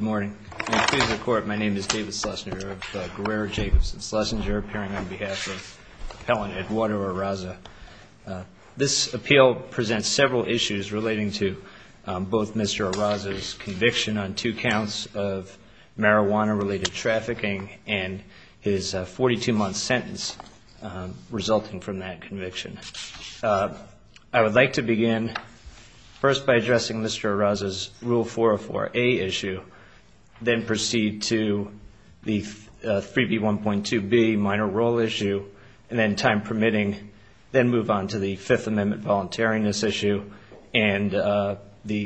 Good morning. My name is David Schlesinger of Guerrero Jacobson Schlesinger appearing on behalf of appellant Eduardo Araza. This appeal presents several issues relating to both Mr. Araza's conviction on two counts of marijuana-related trafficking and his 42-month sentence resulting from that conviction. I would like to begin first by addressing Mr. Araza's Rule 404A issue, then proceed to the 3B1.2b minor role issue, and then time permitting, then move on to the Fifth Amendment voluntariness issue and the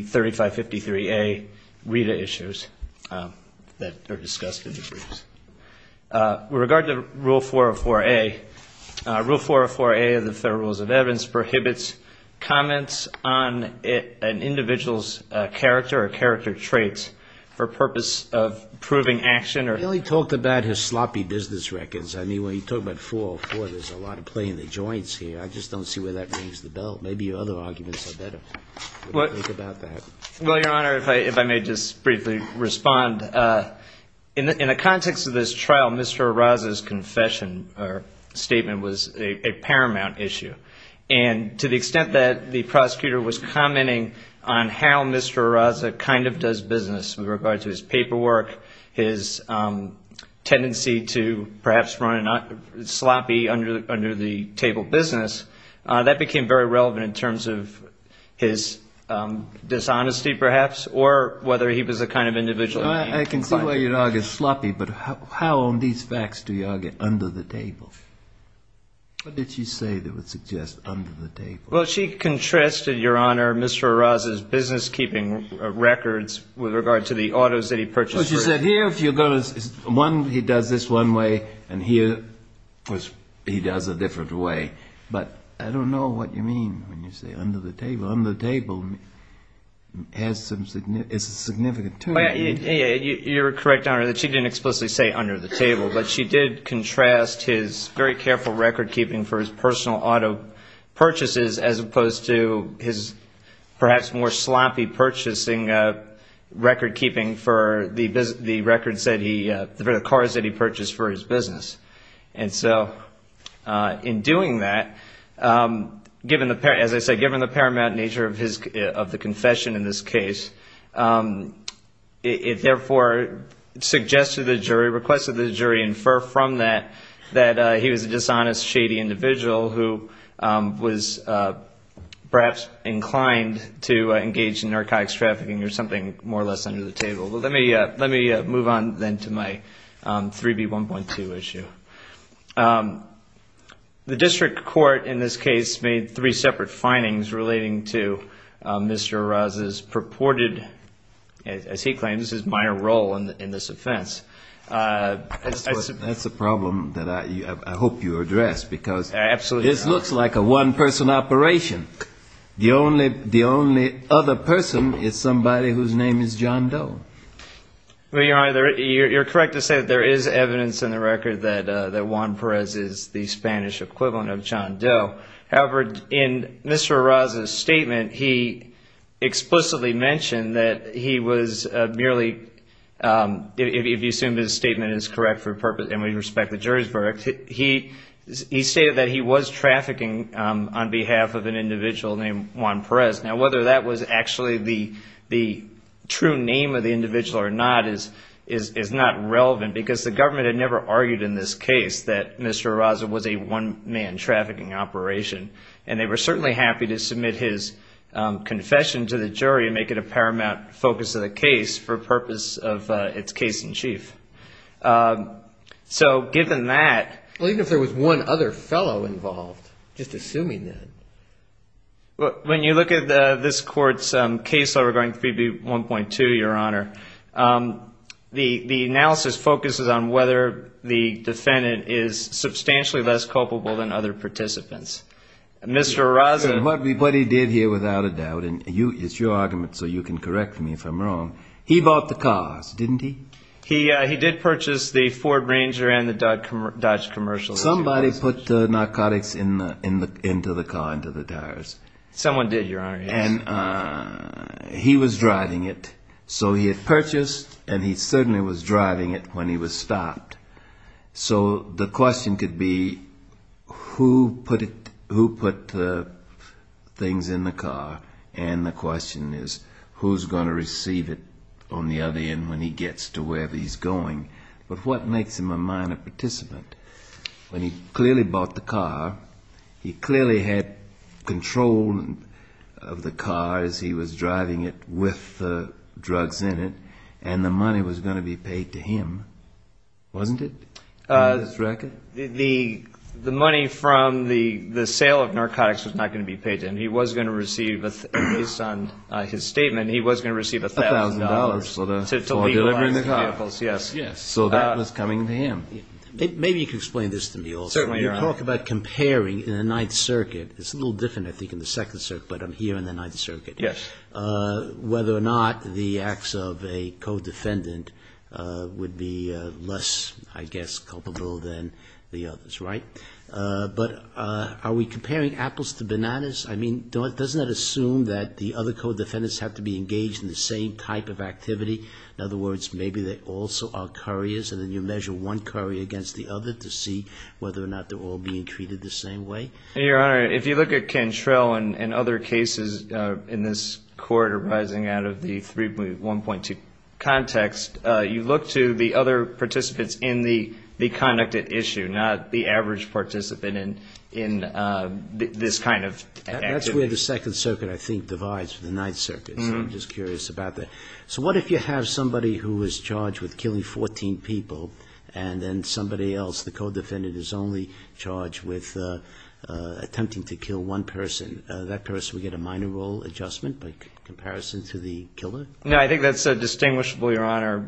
3553A RETA issues that are discussed in the briefs. With regard to Rule 404A, Rule 404A of the Federal Rules of Character Traits, for purpose of proving action or... Well, he talked about his sloppy business records. I mean, when he talked about 404, there's a lot of play in the joints here. I just don't see where that rings the bell. Maybe your other arguments are better. What do you think about that? Well, Your Honor, if I may just briefly respond. In the context of this trial, Mr. Araza's confession or statement was a paramount issue. And to the extent that the prosecutor was commenting on how Mr. Araza kind of does business with regard to his paperwork, his tendency to perhaps run sloppy under the table business, that became very relevant in terms of his dishonesty, perhaps, or whether he was a kind of individual... I can see why you'd argue sloppy, but how on these facts do you argue under the table? What did she say that would suggest under the table? Well, she contrasted, Your Honor, Mr. Araza's business-keeping records with regard to the autos that he purchased. So she said, here, if you're going to... One, he does this one way, and here, he does a different way. But I don't know what you mean when you say under the table. Under the table has some... It's a significant term. You're correct, Your Honor, that she didn't explicitly say under the table. But she did as opposed to his perhaps more sloppy purchasing record-keeping for the cars that he purchased for his business. And so in doing that, as I said, given the paramount nature of the confession in this case, it therefore suggested to the jury, requested the jury infer from that, that he was a dishonest, shady individual who was perhaps inclined to engage in narcotics trafficking or something more or less under the table. Well, let me move on then to my 3B1.2 issue. The district court in this case made three separate findings relating to Mr. Araza's purported, as he claims, his minor role in this offense. That's a problem that I hope you address because this looks like a one-person operation. The only other person is somebody whose name is John Doe. Well, Your Honor, you're correct to say that there is evidence in the record that Juan Perez is the Spanish equivalent of John Doe. However, in Mr. Araza's statement, he stated that he was trafficking on behalf of an individual named Juan Perez. Now, whether that was actually the true name of the individual or not is not relevant because the government had never argued in this case that Mr. Araza was a one-man trafficking operation. And they were certainly happy to submit his confession to the jury and make it a paramount focus of the case for purpose of its case in chief. So given that... Even if there was one other fellow involved, just assuming that... When you look at this court's case regarding 3B1.2, Your Honor, the analysis focuses on whether the defendant is substantially less culpable than other participants. Mr. Araza... What he did here, without a doubt, and it's your argument so you can correct me if I'm wrong, he bought the cars, didn't he? He did purchase the Ford Ranger and the Dodge Commercial. Somebody put narcotics into the car, into the tires. Someone did, Your Honor, yes. And he was driving it. So he had purchased and he certainly was driving it when he was stopped. So the question could be, who put the things in the car? And the question is, who's going to receive it on the other end when he gets to where he's going? But what makes him a minor participant? When he clearly bought the car, he clearly had control of the car as he was driving it with the drugs in it, and the money was going to be paid to him. Wasn't it, on his record? The money from the sale of narcotics was not going to be paid to him. He was going to receive, based on his statement, he was going to receive $1,000. $1,000 for delivering the car. Yes, yes. So that was coming to him. Maybe you can explain this to me also. Certainly, Your Honor. When you talk about comparing in the Ninth Circuit, it's a little different, I think, in the Second Circuit, but I'm here in the Ninth Circuit. Yes. Whether or not the acts of a co-defendant would be less, I guess, culpable than the others, right? But are we comparing apples to bananas? I mean, doesn't that assume that the other co-defendants have to be engaged in the same type of activity? In other words, maybe they also are couriers, and then you measure one courier against the other to see whether or not they're all being treated the same way? Your Honor, if you look at Cantrell and other cases in this court arising out of the 3.1.2 context, you look to the other participants in the conduct at issue, not the average participant in this kind of activity. That's where the Second Circuit, I think, divides with the Ninth Circuit, so I'm just curious about that. So what if you have somebody who is charged with killing 14 people, and then somebody is only charged with attempting to kill one person? That person would get a minor role adjustment by comparison to the killer? No, I think that's distinguishable, Your Honor.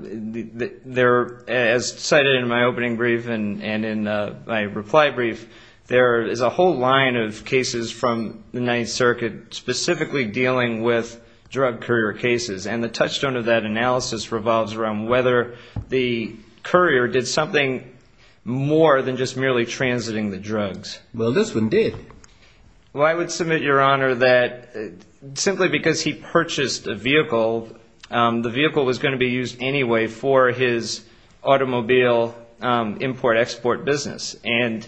As cited in my opening brief and in my reply brief, there is a whole line of cases from the Ninth Circuit specifically dealing with drug courier cases, and the touchstone of that analysis revolves around whether the courier did something more than just merely transiting the drugs. Well, this one did. Well, I would submit, Your Honor, that simply because he purchased a vehicle, the vehicle was going to be used anyway for his automobile import-export business. And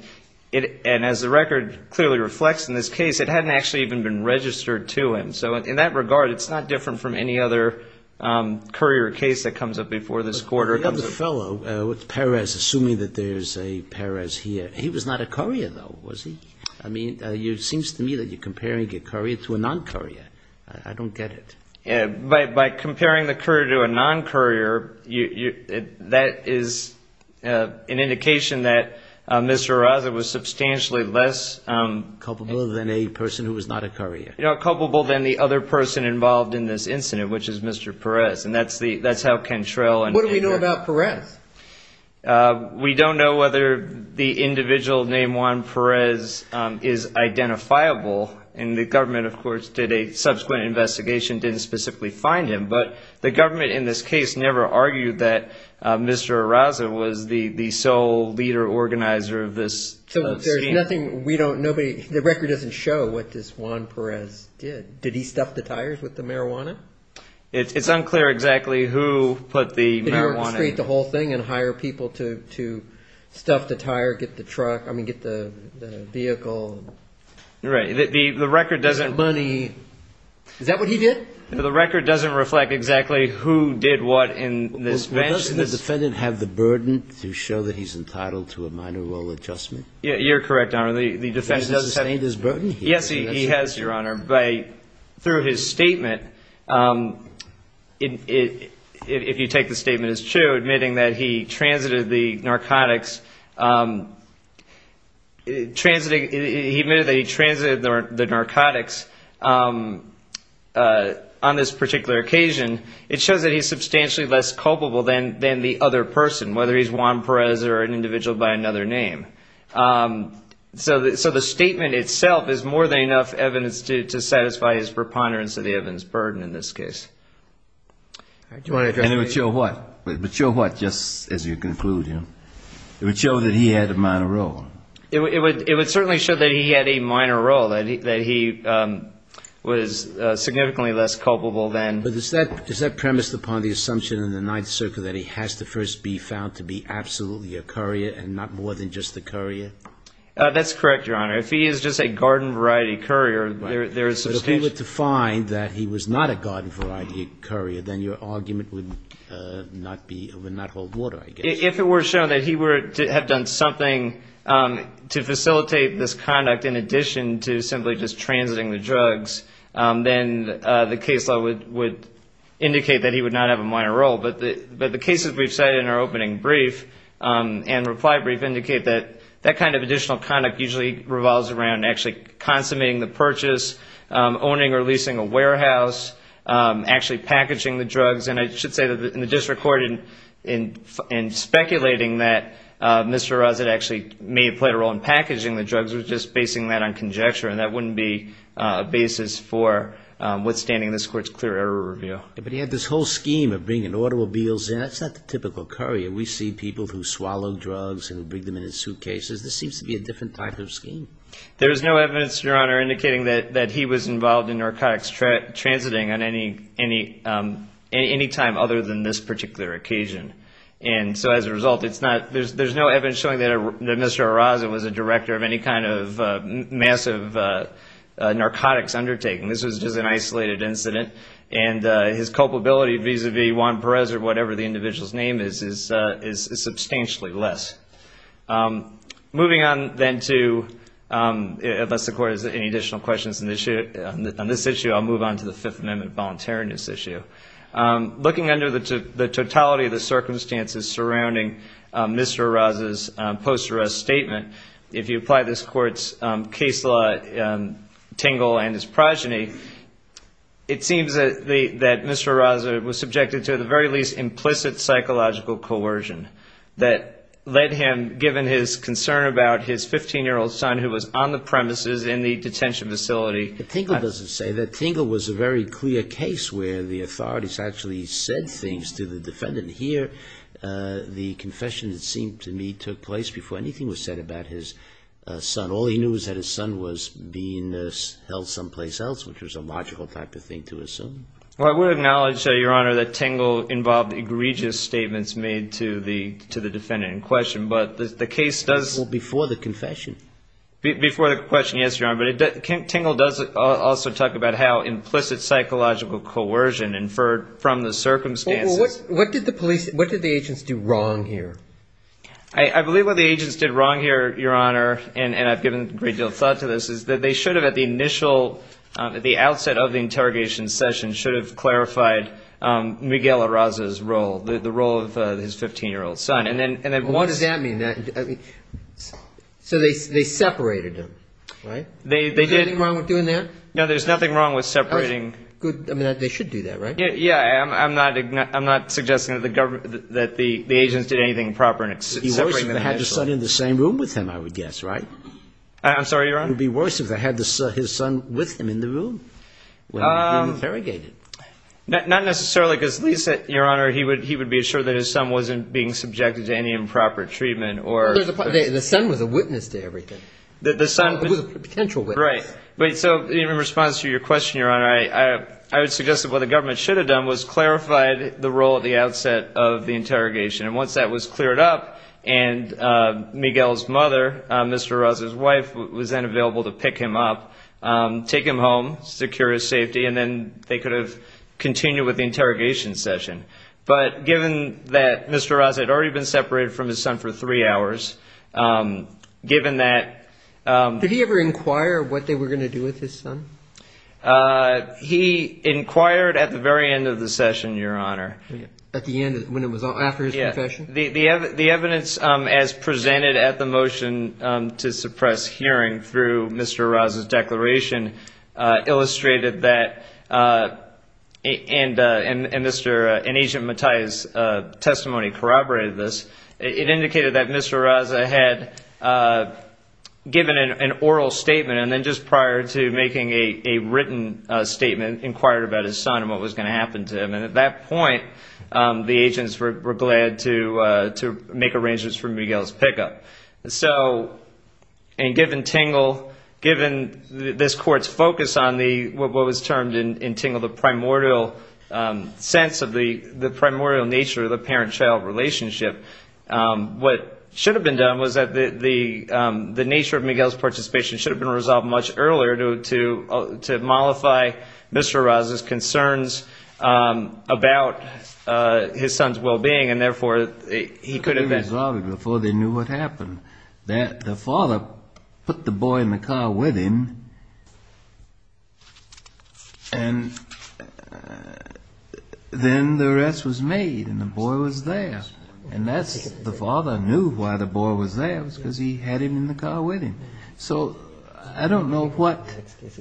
as the record clearly reflects in this case, it hadn't actually even been registered to him. So in that regard, it's not different from any other courier case that comes up before this Court. But you have a fellow with Perez, assuming that there's a Perez here. He was not a courier, though, was he? I mean, it seems to me that you're comparing a courier to a non-courier. I don't get it. By comparing the courier to a non-courier, that is an indication that Mr. Arraza was substantially less- Culpable than a person who was not a courier. Culpable than the other person involved in this incident, which is Mr. Perez. And that's how Kentrell and- What do we know about Perez? We don't know whether the individual named Juan Perez is identifiable. And the government, of course, did a subsequent investigation. Didn't specifically find him. But the government in this case never argued that Mr. Arraza was the sole leader organizer of this scene. There's nothing- The record doesn't show what this Juan Perez did. Did he stuff the tires with the marijuana? It's unclear exactly who put the marijuana- Did he orchestrate the whole thing and hire people to stuff the tire, get the truck- I mean, get the vehicle? Right. The record doesn't- Money. Is that what he did? The record doesn't reflect exactly who did what in this- Well, doesn't the defendant have the burden to show that he's entitled to a minor role adjustment? You're correct, Your Honor. The defendant does have- Does he sustain his burden here? Yes, he has, Your Honor. But through his statement, if you take the statement as true, admitting that he transited the narcotics, he admitted that he transited the narcotics on this particular occasion, it shows that he's substantially less culpable than the other person, whether he's Juan Perez or an individual by another name. So the statement itself is more than enough evidence to satisfy his preponderance of the evidence burden in this case. And it would show what? It would show what, just as you conclude? It would show that he had a minor role. It would certainly show that he had a minor role, that he was significantly less culpable than- But is that premised upon the assumption in the Ninth Circle that he has to first be found to be absolutely a courier and not more than just a courier? That's correct, Your Honor. If he is just a garden-variety courier, there is substantial- But if he were to find that he was not a garden-variety courier, then your argument would not hold water, I guess. If it were shown that he had done something to facilitate this conduct in addition to simply just transiting the drugs, then the case law would indicate that he would not have a minor role. But the cases we've cited in our opening brief and reply brief indicate that that kind of additional conduct usually revolves around actually consummating the purchase, owning or leasing a warehouse, actually packaging the drugs. And I should say that in the district court, in speculating that Mr. Rossett actually may have played a role in packaging the drugs, was just basing that on conjecture. And that wouldn't be a basis for withstanding this Court's clear error review. But he had this whole scheme of bringing automobiles in. That's not the typical courier. We see people who swallow drugs and bring them in in suitcases. This seems to be a different type of scheme. There's no evidence, Your Honor, indicating that he was involved in narcotics transiting on any time other than this particular occasion. And so as a result, there's no evidence showing that Mr. Rossett was a director of any kind of massive narcotics undertaking. This was just an isolated incident. And his culpability vis-a-vis Juan Perez or whatever the individual's name is, is substantially less. Moving on then to, unless the Court has any additional questions on this issue, I'll move on to the Fifth Amendment voluntariness issue. Looking under the totality of the circumstances surrounding Mr. Rossett's post-arrest statement, if you apply this Court's case law tingle and his progeny, it seems that Mr. Rossett was subjected to at the very least implicit psychological coercion that led him, given his concern about his 15-year-old son who was on the premises in the detention facility. But tingle doesn't say that. Tingle was a very clear case where the authorities actually said things to the defendant. Here, the confession, it seemed to me, took place before anything was said about his son. All he knew was that his son was being held someplace else, which was a logical type of thing to assume. Well, I would acknowledge, Your Honor, that tingle involved egregious statements made to the defendant in question. But the case does... Well, before the confession. Before the question, yes, Your Honor. But tingle does also talk about how implicit psychological coercion inferred from the circumstances... What did the police, what did the agents do wrong here? I believe what the agents did wrong here, Your Honor, and I've given a great deal of thought to this, is that they should have at the initial, at the outset of the interrogation session, should have clarified Miguel Arraza's role, the role of his 15-year-old son. What does that mean? So they separated him, right? They did... Is there anything wrong with doing that? No, there's nothing wrong with separating... Good, I mean, they should do that, right? Yeah, I'm not suggesting that the agents did anything proper in separating Miguel Arraza. It would be worse if they had his son in the same room with him, I would guess, right? I'm sorry, Your Honor? It would be worse if they had his son with him in the room when they were interrogated. Not necessarily, because at least, Your Honor, he would be assured that his son wasn't being subjected to any improper treatment or... The son was a witness to everything. The son... It was a potential witness. Right. But so, in response to your question, Your Honor, I would suggest that what the government should have done was clarified the role at the outset of the interrogation. And once that was cleared up and Miguel's mother, Mr. Arraza's wife, was then available to pick him up, take him home, secure his safety, and then they could have continued with the interrogation session. But given that Mr. Arraza had already been separated from his son for three hours, given that... Did he ever inquire what they were going to do with his son? He inquired at the very end of the session, Your Honor. At the end, when it was all... After his confession? The evidence as presented at the motion to suppress hearing through Mr. Arraza's testimony corroborated this. It indicated that Mr. Arraza had given an oral statement and then just prior to making a written statement, inquired about his son and what was going to happen to him. And at that point, the agents were glad to make arrangements for Miguel's pickup. So, and given Tingle, given this court's focus on what was termed in Tingle, the primordial sense of the primordial nature of the parent-child relationship, what should have been done was that the nature of Miguel's participation should have been resolved much earlier to mollify Mr. Arraza's concerns about his son's well-being. And therefore, he could have... Could have been resolved before they knew what happened. The father put the boy in the car with him and then the arrest was made and the boy was there. And that's... The father knew why the boy was there. It was because he had him in the car with him. So, I don't know what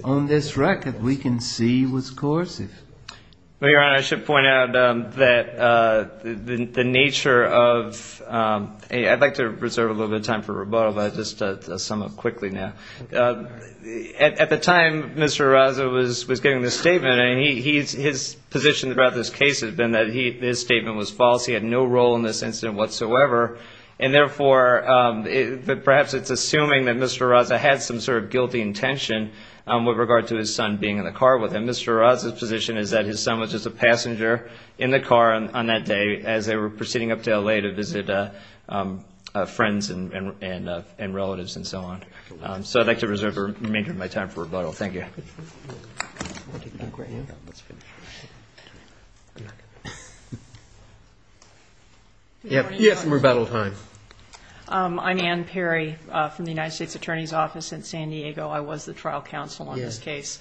on this record we can see was coercive. Well, Your Honor, I should point out that the nature of... I'd like to reserve a little bit of time for rebuttal, but I'll just sum up quickly now. At the time Mr. Arraza was giving this statement, his position throughout this case has been that his statement was false. He had no role in this incident whatsoever. And therefore, perhaps it's assuming that Mr. Arraza had some sort of guilty intention with regard to his son being in the car with him. Mr. Arraza's position is that his son was just a passenger in the car on that day as they were proceeding up to L.A. to visit friends and relatives and so on. So, I'd like to reserve the remainder of my time for rebuttal. Thank you. Yes, rebuttal time. I'm Ann Perry from the United States Attorney's Office in San Diego. I was the trial counsel on this case.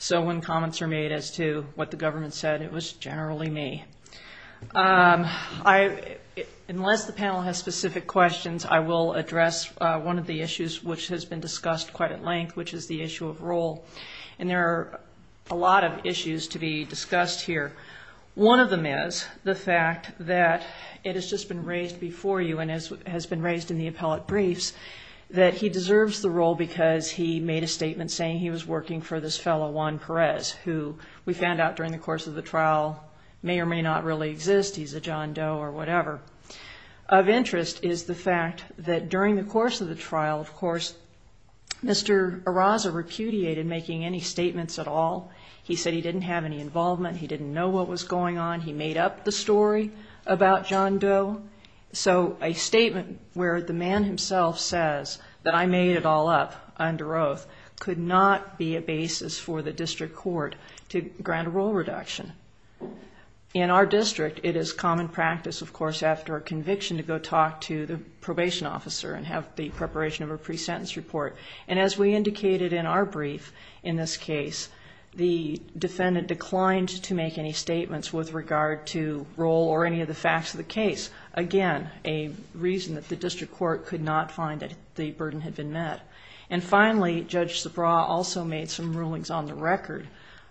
So, when comments are made as to what the government said, it was generally me. I, unless the panel has specific questions, I will address one of the issues which has been discussed quite at length, which is the issue of role. And there are a lot of issues to be discussed here. One of them is the fact that it has just been raised before you and has been raised in the appellate briefs that he deserves the role because he made a statement saying he was working for this fellow, Juan Perez, who we found out during the course of the trial may or may not really exist. He's a John Doe or whatever. Of interest is the fact that during the course of the trial, of course, Mr. Araza repudiated making any statements at all. He said he didn't have any involvement. He didn't know what was going on. He made up the story about John Doe. So, a statement where the man himself says that I made it all up under oath could not be a basis for the district court to grant a role reduction. In our district, it is common practice, of course, after a conviction to go talk to the probation officer and have the preparation of a pre-sentence report. And as we indicated in our brief, in this case, the defendant declined to make any statements with regard to role or any of the facts of the case. Again, a reason that the district court could not find that the burden had been met. And finally, Judge Subraw also made some rulings on the record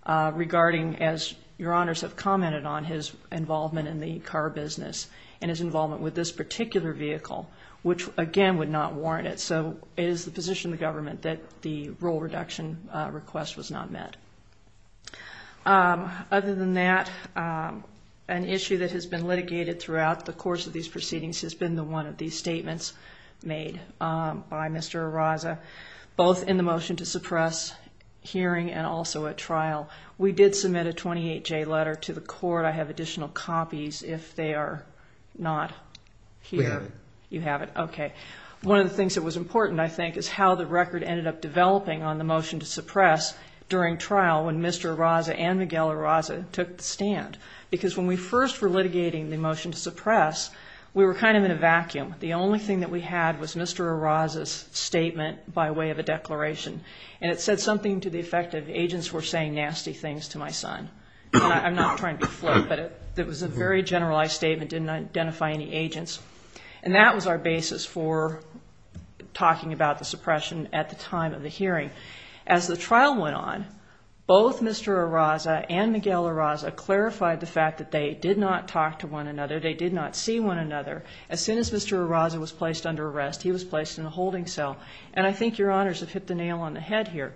regarding, as you're honors have commented on, his involvement in the car business and his involvement with this particular vehicle, which again, would not warrant it. So, it is the position of the government that the role reduction request was not met. Other than that, an issue that has been litigated throughout the course of these proceedings has been the one of these statements made by Mr. Araza, both in the motion to suppress hearing and also at trial. We did submit a 28-J letter to the court. I have additional copies if they are not here. We have it. You have it. Okay. One of the things that was important, I think, is how the record ended up developing on the motion to suppress during trial when Mr. Araza and Miguel Araza took the stand. Because when we first were litigating the motion to suppress, we were kind of in a vacuum. The only thing that we had was Mr. Araza's statement by way of a declaration. And it said something to the effect of agents were saying nasty things to my son. I'm not trying to be flippant, but it was a very generalized statement. It didn't identify any agents. And that was our basis for talking about the suppression at the time of the hearing. As the trial went on, both Mr. Araza and Miguel Araza clarified the fact that they did not talk to one another. They did not see one another. As soon as Mr. Araza was placed under arrest, he was placed in a holding cell. And I think Your Honors have hit the nail on the head here.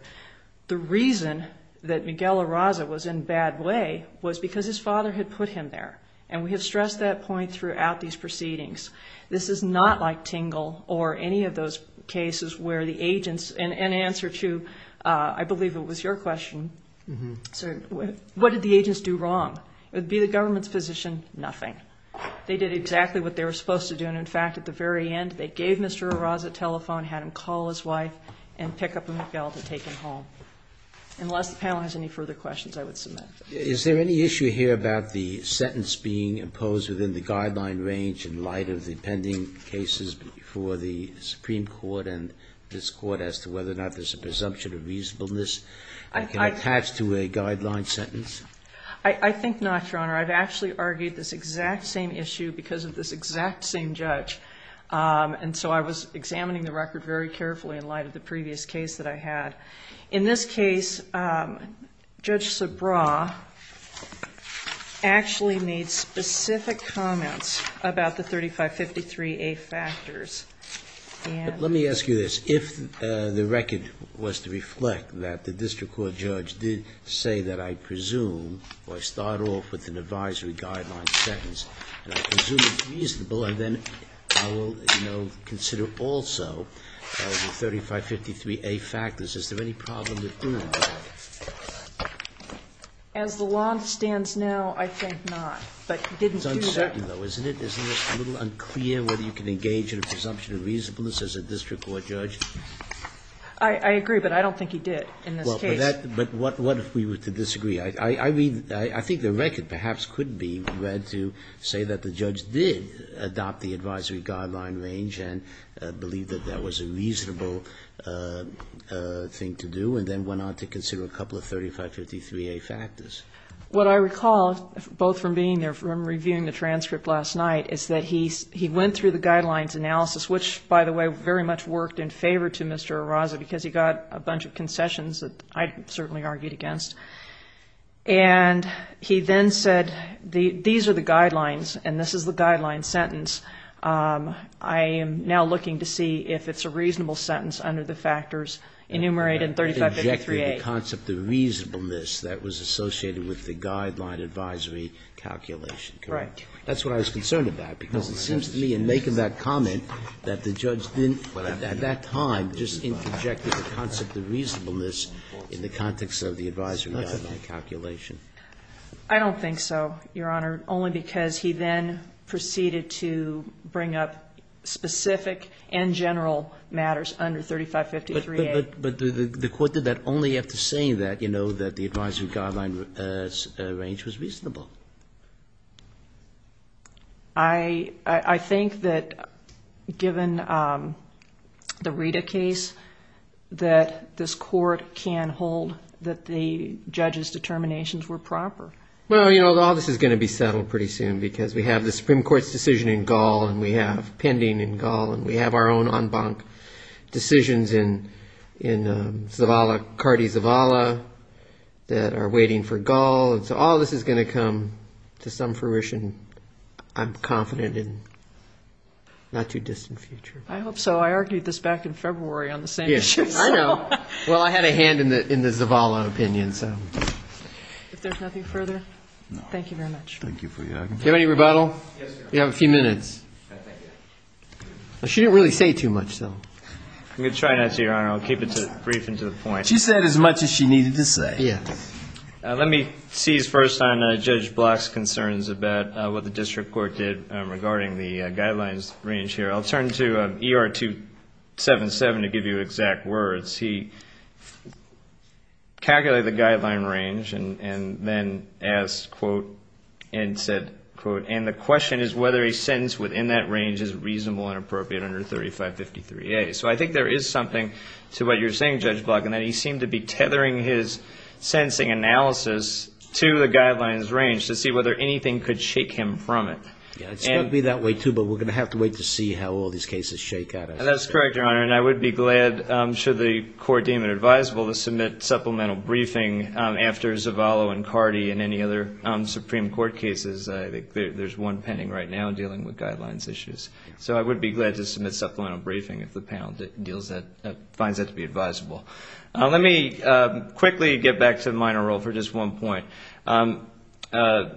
The reason that Miguel Araza was in a bad way was because his father had put him there. And we have stressed that point throughout these proceedings. This is not like Tingle or any of those cases where the agents, in answer to, I believe it was your question, what did the agents do wrong? It would be the government's position, nothing. They did exactly what they were supposed to do. In fact, at the very end, they gave Mr. Araza a telephone, had him call his wife, and pick up Miguel to take him home. Unless the panel has any further questions, I would submit. Is there any issue here about the sentence being imposed within the guideline range in light of the pending cases before the Supreme Court and this Court as to whether or not there's a presumption of reasonableness that can attach to a guideline sentence? I think not, Your Honor. I've actually argued this exact same issue because of this exact same judge. And so I was examining the record very carefully in light of the previous case that I had. In this case, Judge Subraw actually made specific comments about the 3553A factors. Let me ask you this. If the record was to reflect that the district court judge did say that I presume, or I start off with an advisory guideline sentence, and I presume it's reasonable, and then I will, you know, consider also the 3553A factors, is there any problem with doing that? As the law stands now, I think not. But he didn't do that. It's uncertain, though, isn't it? Isn't it a little unclear whether you can engage in a presumption of reasonableness as a district court judge? I agree, but I don't think he did in this case. Well, but that – but what if we were to disagree? I mean, I think the record perhaps could be read to say that the judge did adopt the advisory guideline range and believe that that was a reasonable thing to do, and then went on to consider a couple of 3553A factors. What I recall, both from being there, from reviewing the transcript last night, is that he went through the guidelines analysis, which, by the way, very much worked in favor to Mr. Arraza because he got a bunch of concessions that I certainly argued against. And he then said, these are the guidelines and this is the guideline sentence. I am now looking to see if it's a reasonable sentence under the factors enumerated in 3553A. The concept of reasonableness that was associated with the guideline advisory calculation, correct? Right. That's what I was concerned about because it seems to me in making that comment that the judge didn't, at that time, just interjected the concept of reasonableness in the context of the advisory guideline calculation. I don't think so, Your Honor, only because he then proceeded to bring up specific and general matters under 3553A. But the court did that only after saying that, you know, that the advisory guideline range was reasonable. I think that, given the Rita case, that this court can hold that the judge's determinations were proper. Well, you know, all this is going to be settled pretty soon because we have the Supreme Court's decision in Gaul and we have pending in Gaul and we have our own en banc decisions in Zavala, Cardi Zavala, that are waiting for Gaul. So all this is going to come to some fruition, I'm confident, in not too distant future. I hope so. I argued this back in February on the same issue. I know. Well, I had a hand in the Zavala opinion, so. If there's nothing further, thank you very much. Thank you for your argument. Do you have any rebuttal? Yes, Your Honor. You have a few minutes. She didn't really say too much, though. I'm going to try not to, Your Honor. I'll keep it brief and to the point. She said as much as she needed to say. Yeah. Let me seize first on Judge Block's concerns about what the district court did regarding the guidelines range here. I'll turn to ER 277 to give you exact words. He calculated the guideline range and then asked, quote, and said, quote, and the question is whether a sentence within that range is reasonable and appropriate under 3553A. So I think there is something to what you're saying, Judge Block, in that he is enhancing analysis to the guidelines range to see whether anything could shake him from it. Yeah. It's going to be that way, too, but we're going to have to wait to see how all these cases shake out. And that's correct, Your Honor. And I would be glad, should the court deem it advisable, to submit supplemental briefing after Zavala and Cardi and any other Supreme Court cases. I think there's one pending right now dealing with guidelines issues. So I would be glad to submit supplemental briefing if the panel finds that to be advisable. Let me quickly get back to the minor role for just one point.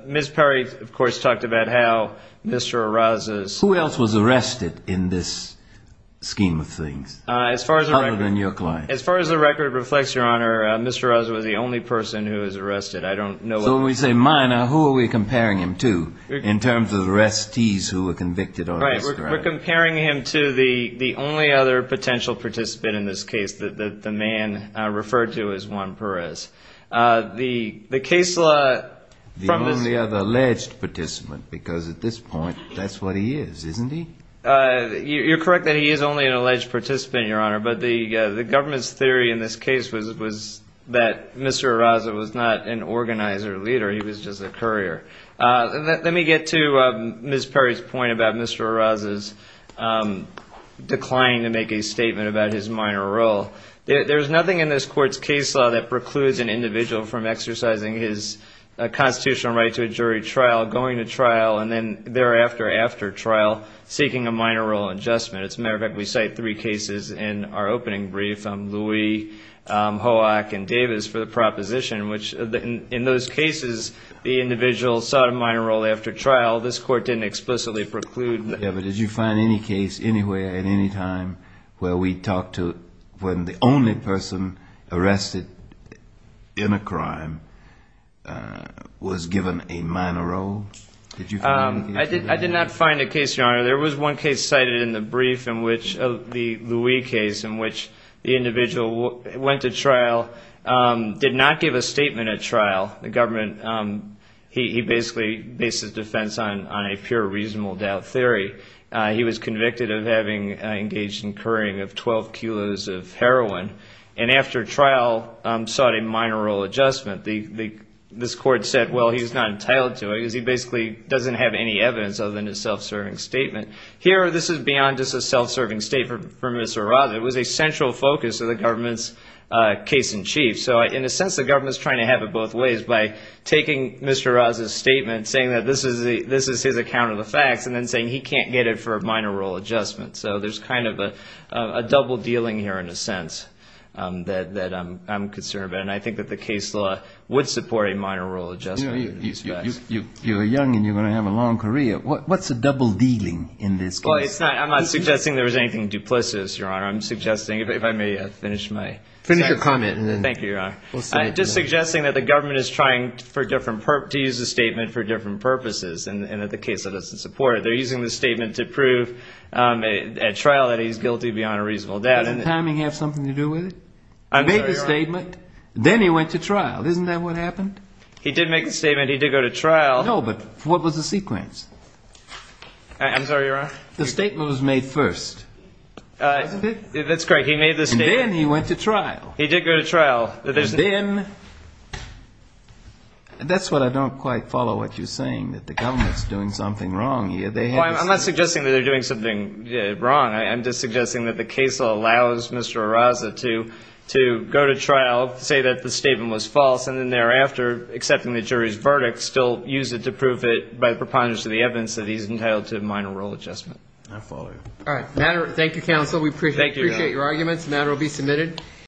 Ms. Perry, of course, talked about how Mr. Arraza's- Who else was arrested in this scheme of things, other than your client? As far as the record reflects, Your Honor, Mr. Arraza was the only person who was arrested. I don't know- So when we say minor, who are we comparing him to in terms of the arrestees who were convicted or- Right. We're comparing him to the only other potential participant in this case, that the man referred to as Juan Perez. The case law- The only other alleged participant, because at this point, that's what he is, isn't he? You're correct that he is only an alleged participant, Your Honor. But the government's theory in this case was that Mr. Arraza was not an organizer leader. He was just a courier. Let me get to Ms. Perry's point about Mr. Arraza's statement about his minor role. There's nothing in this court's case law that precludes an individual from exercising his constitutional right to a jury trial, going to trial, and then thereafter, after trial, seeking a minor role adjustment. As a matter of fact, we cite three cases in our opening brief. Louie, Hoak, and Davis for the proposition, which in those cases, the individual sought a minor role after trial. This court didn't explicitly preclude- Did you find any case anywhere at any time where we talked to when the only person arrested in a crime was given a minor role? I did not find a case, Your Honor. There was one case cited in the brief, the Louie case, in which the individual went to trial, did not give a statement at trial. The government, he basically bases defense on a pure reasonable doubt theory. He was convicted of having engaged in couriering of 12 kilos of heroin. And after trial, sought a minor role adjustment. This court said, well, he's not entitled to it because he basically doesn't have any evidence other than a self-serving statement. Here, this is beyond just a self-serving statement for Ms. Arraza. It was a central focus of the government's case in chief. In a sense, the government's trying to have it both ways by taking Mr. Arraza's statement, saying that this is his account of the facts, and then saying he can't get it for a minor role adjustment. So there's kind of a double dealing here in a sense that I'm concerned about. And I think that the case law would support a minor role adjustment. You know, you're young and you're going to have a long career. What's the double dealing in this case? Well, I'm not suggesting there was anything duplicitous, Your Honor. I'm suggesting, if I may finish my- Finish your comment. Thank you, Your Honor. I'm just suggesting that the government is trying to use the statement for different purposes, and that the case law doesn't support it. They're using the statement to prove at trial that he's guilty beyond a reasonable doubt. Doesn't timing have something to do with it? I'm sorry, Your Honor. He made the statement, then he went to trial. Isn't that what happened? He did make the statement. He did go to trial. No, but what was the sequence? I'm sorry, Your Honor. The statement was made first, wasn't it? That's correct. He made the statement- Then he went to trial. He did go to trial. That's what I don't quite follow what you're saying, that the government's doing something wrong here. I'm not suggesting that they're doing something wrong. I'm just suggesting that the case law allows Mr. Arraza to go to trial, say that the statement was false, and then thereafter, accepting the jury's verdict, still use it to prove it by preponderance of the evidence that he's entitled to minor role adjustment. I follow you. All right. Thank you, counsel. We appreciate your arguments. The matter will be submitted.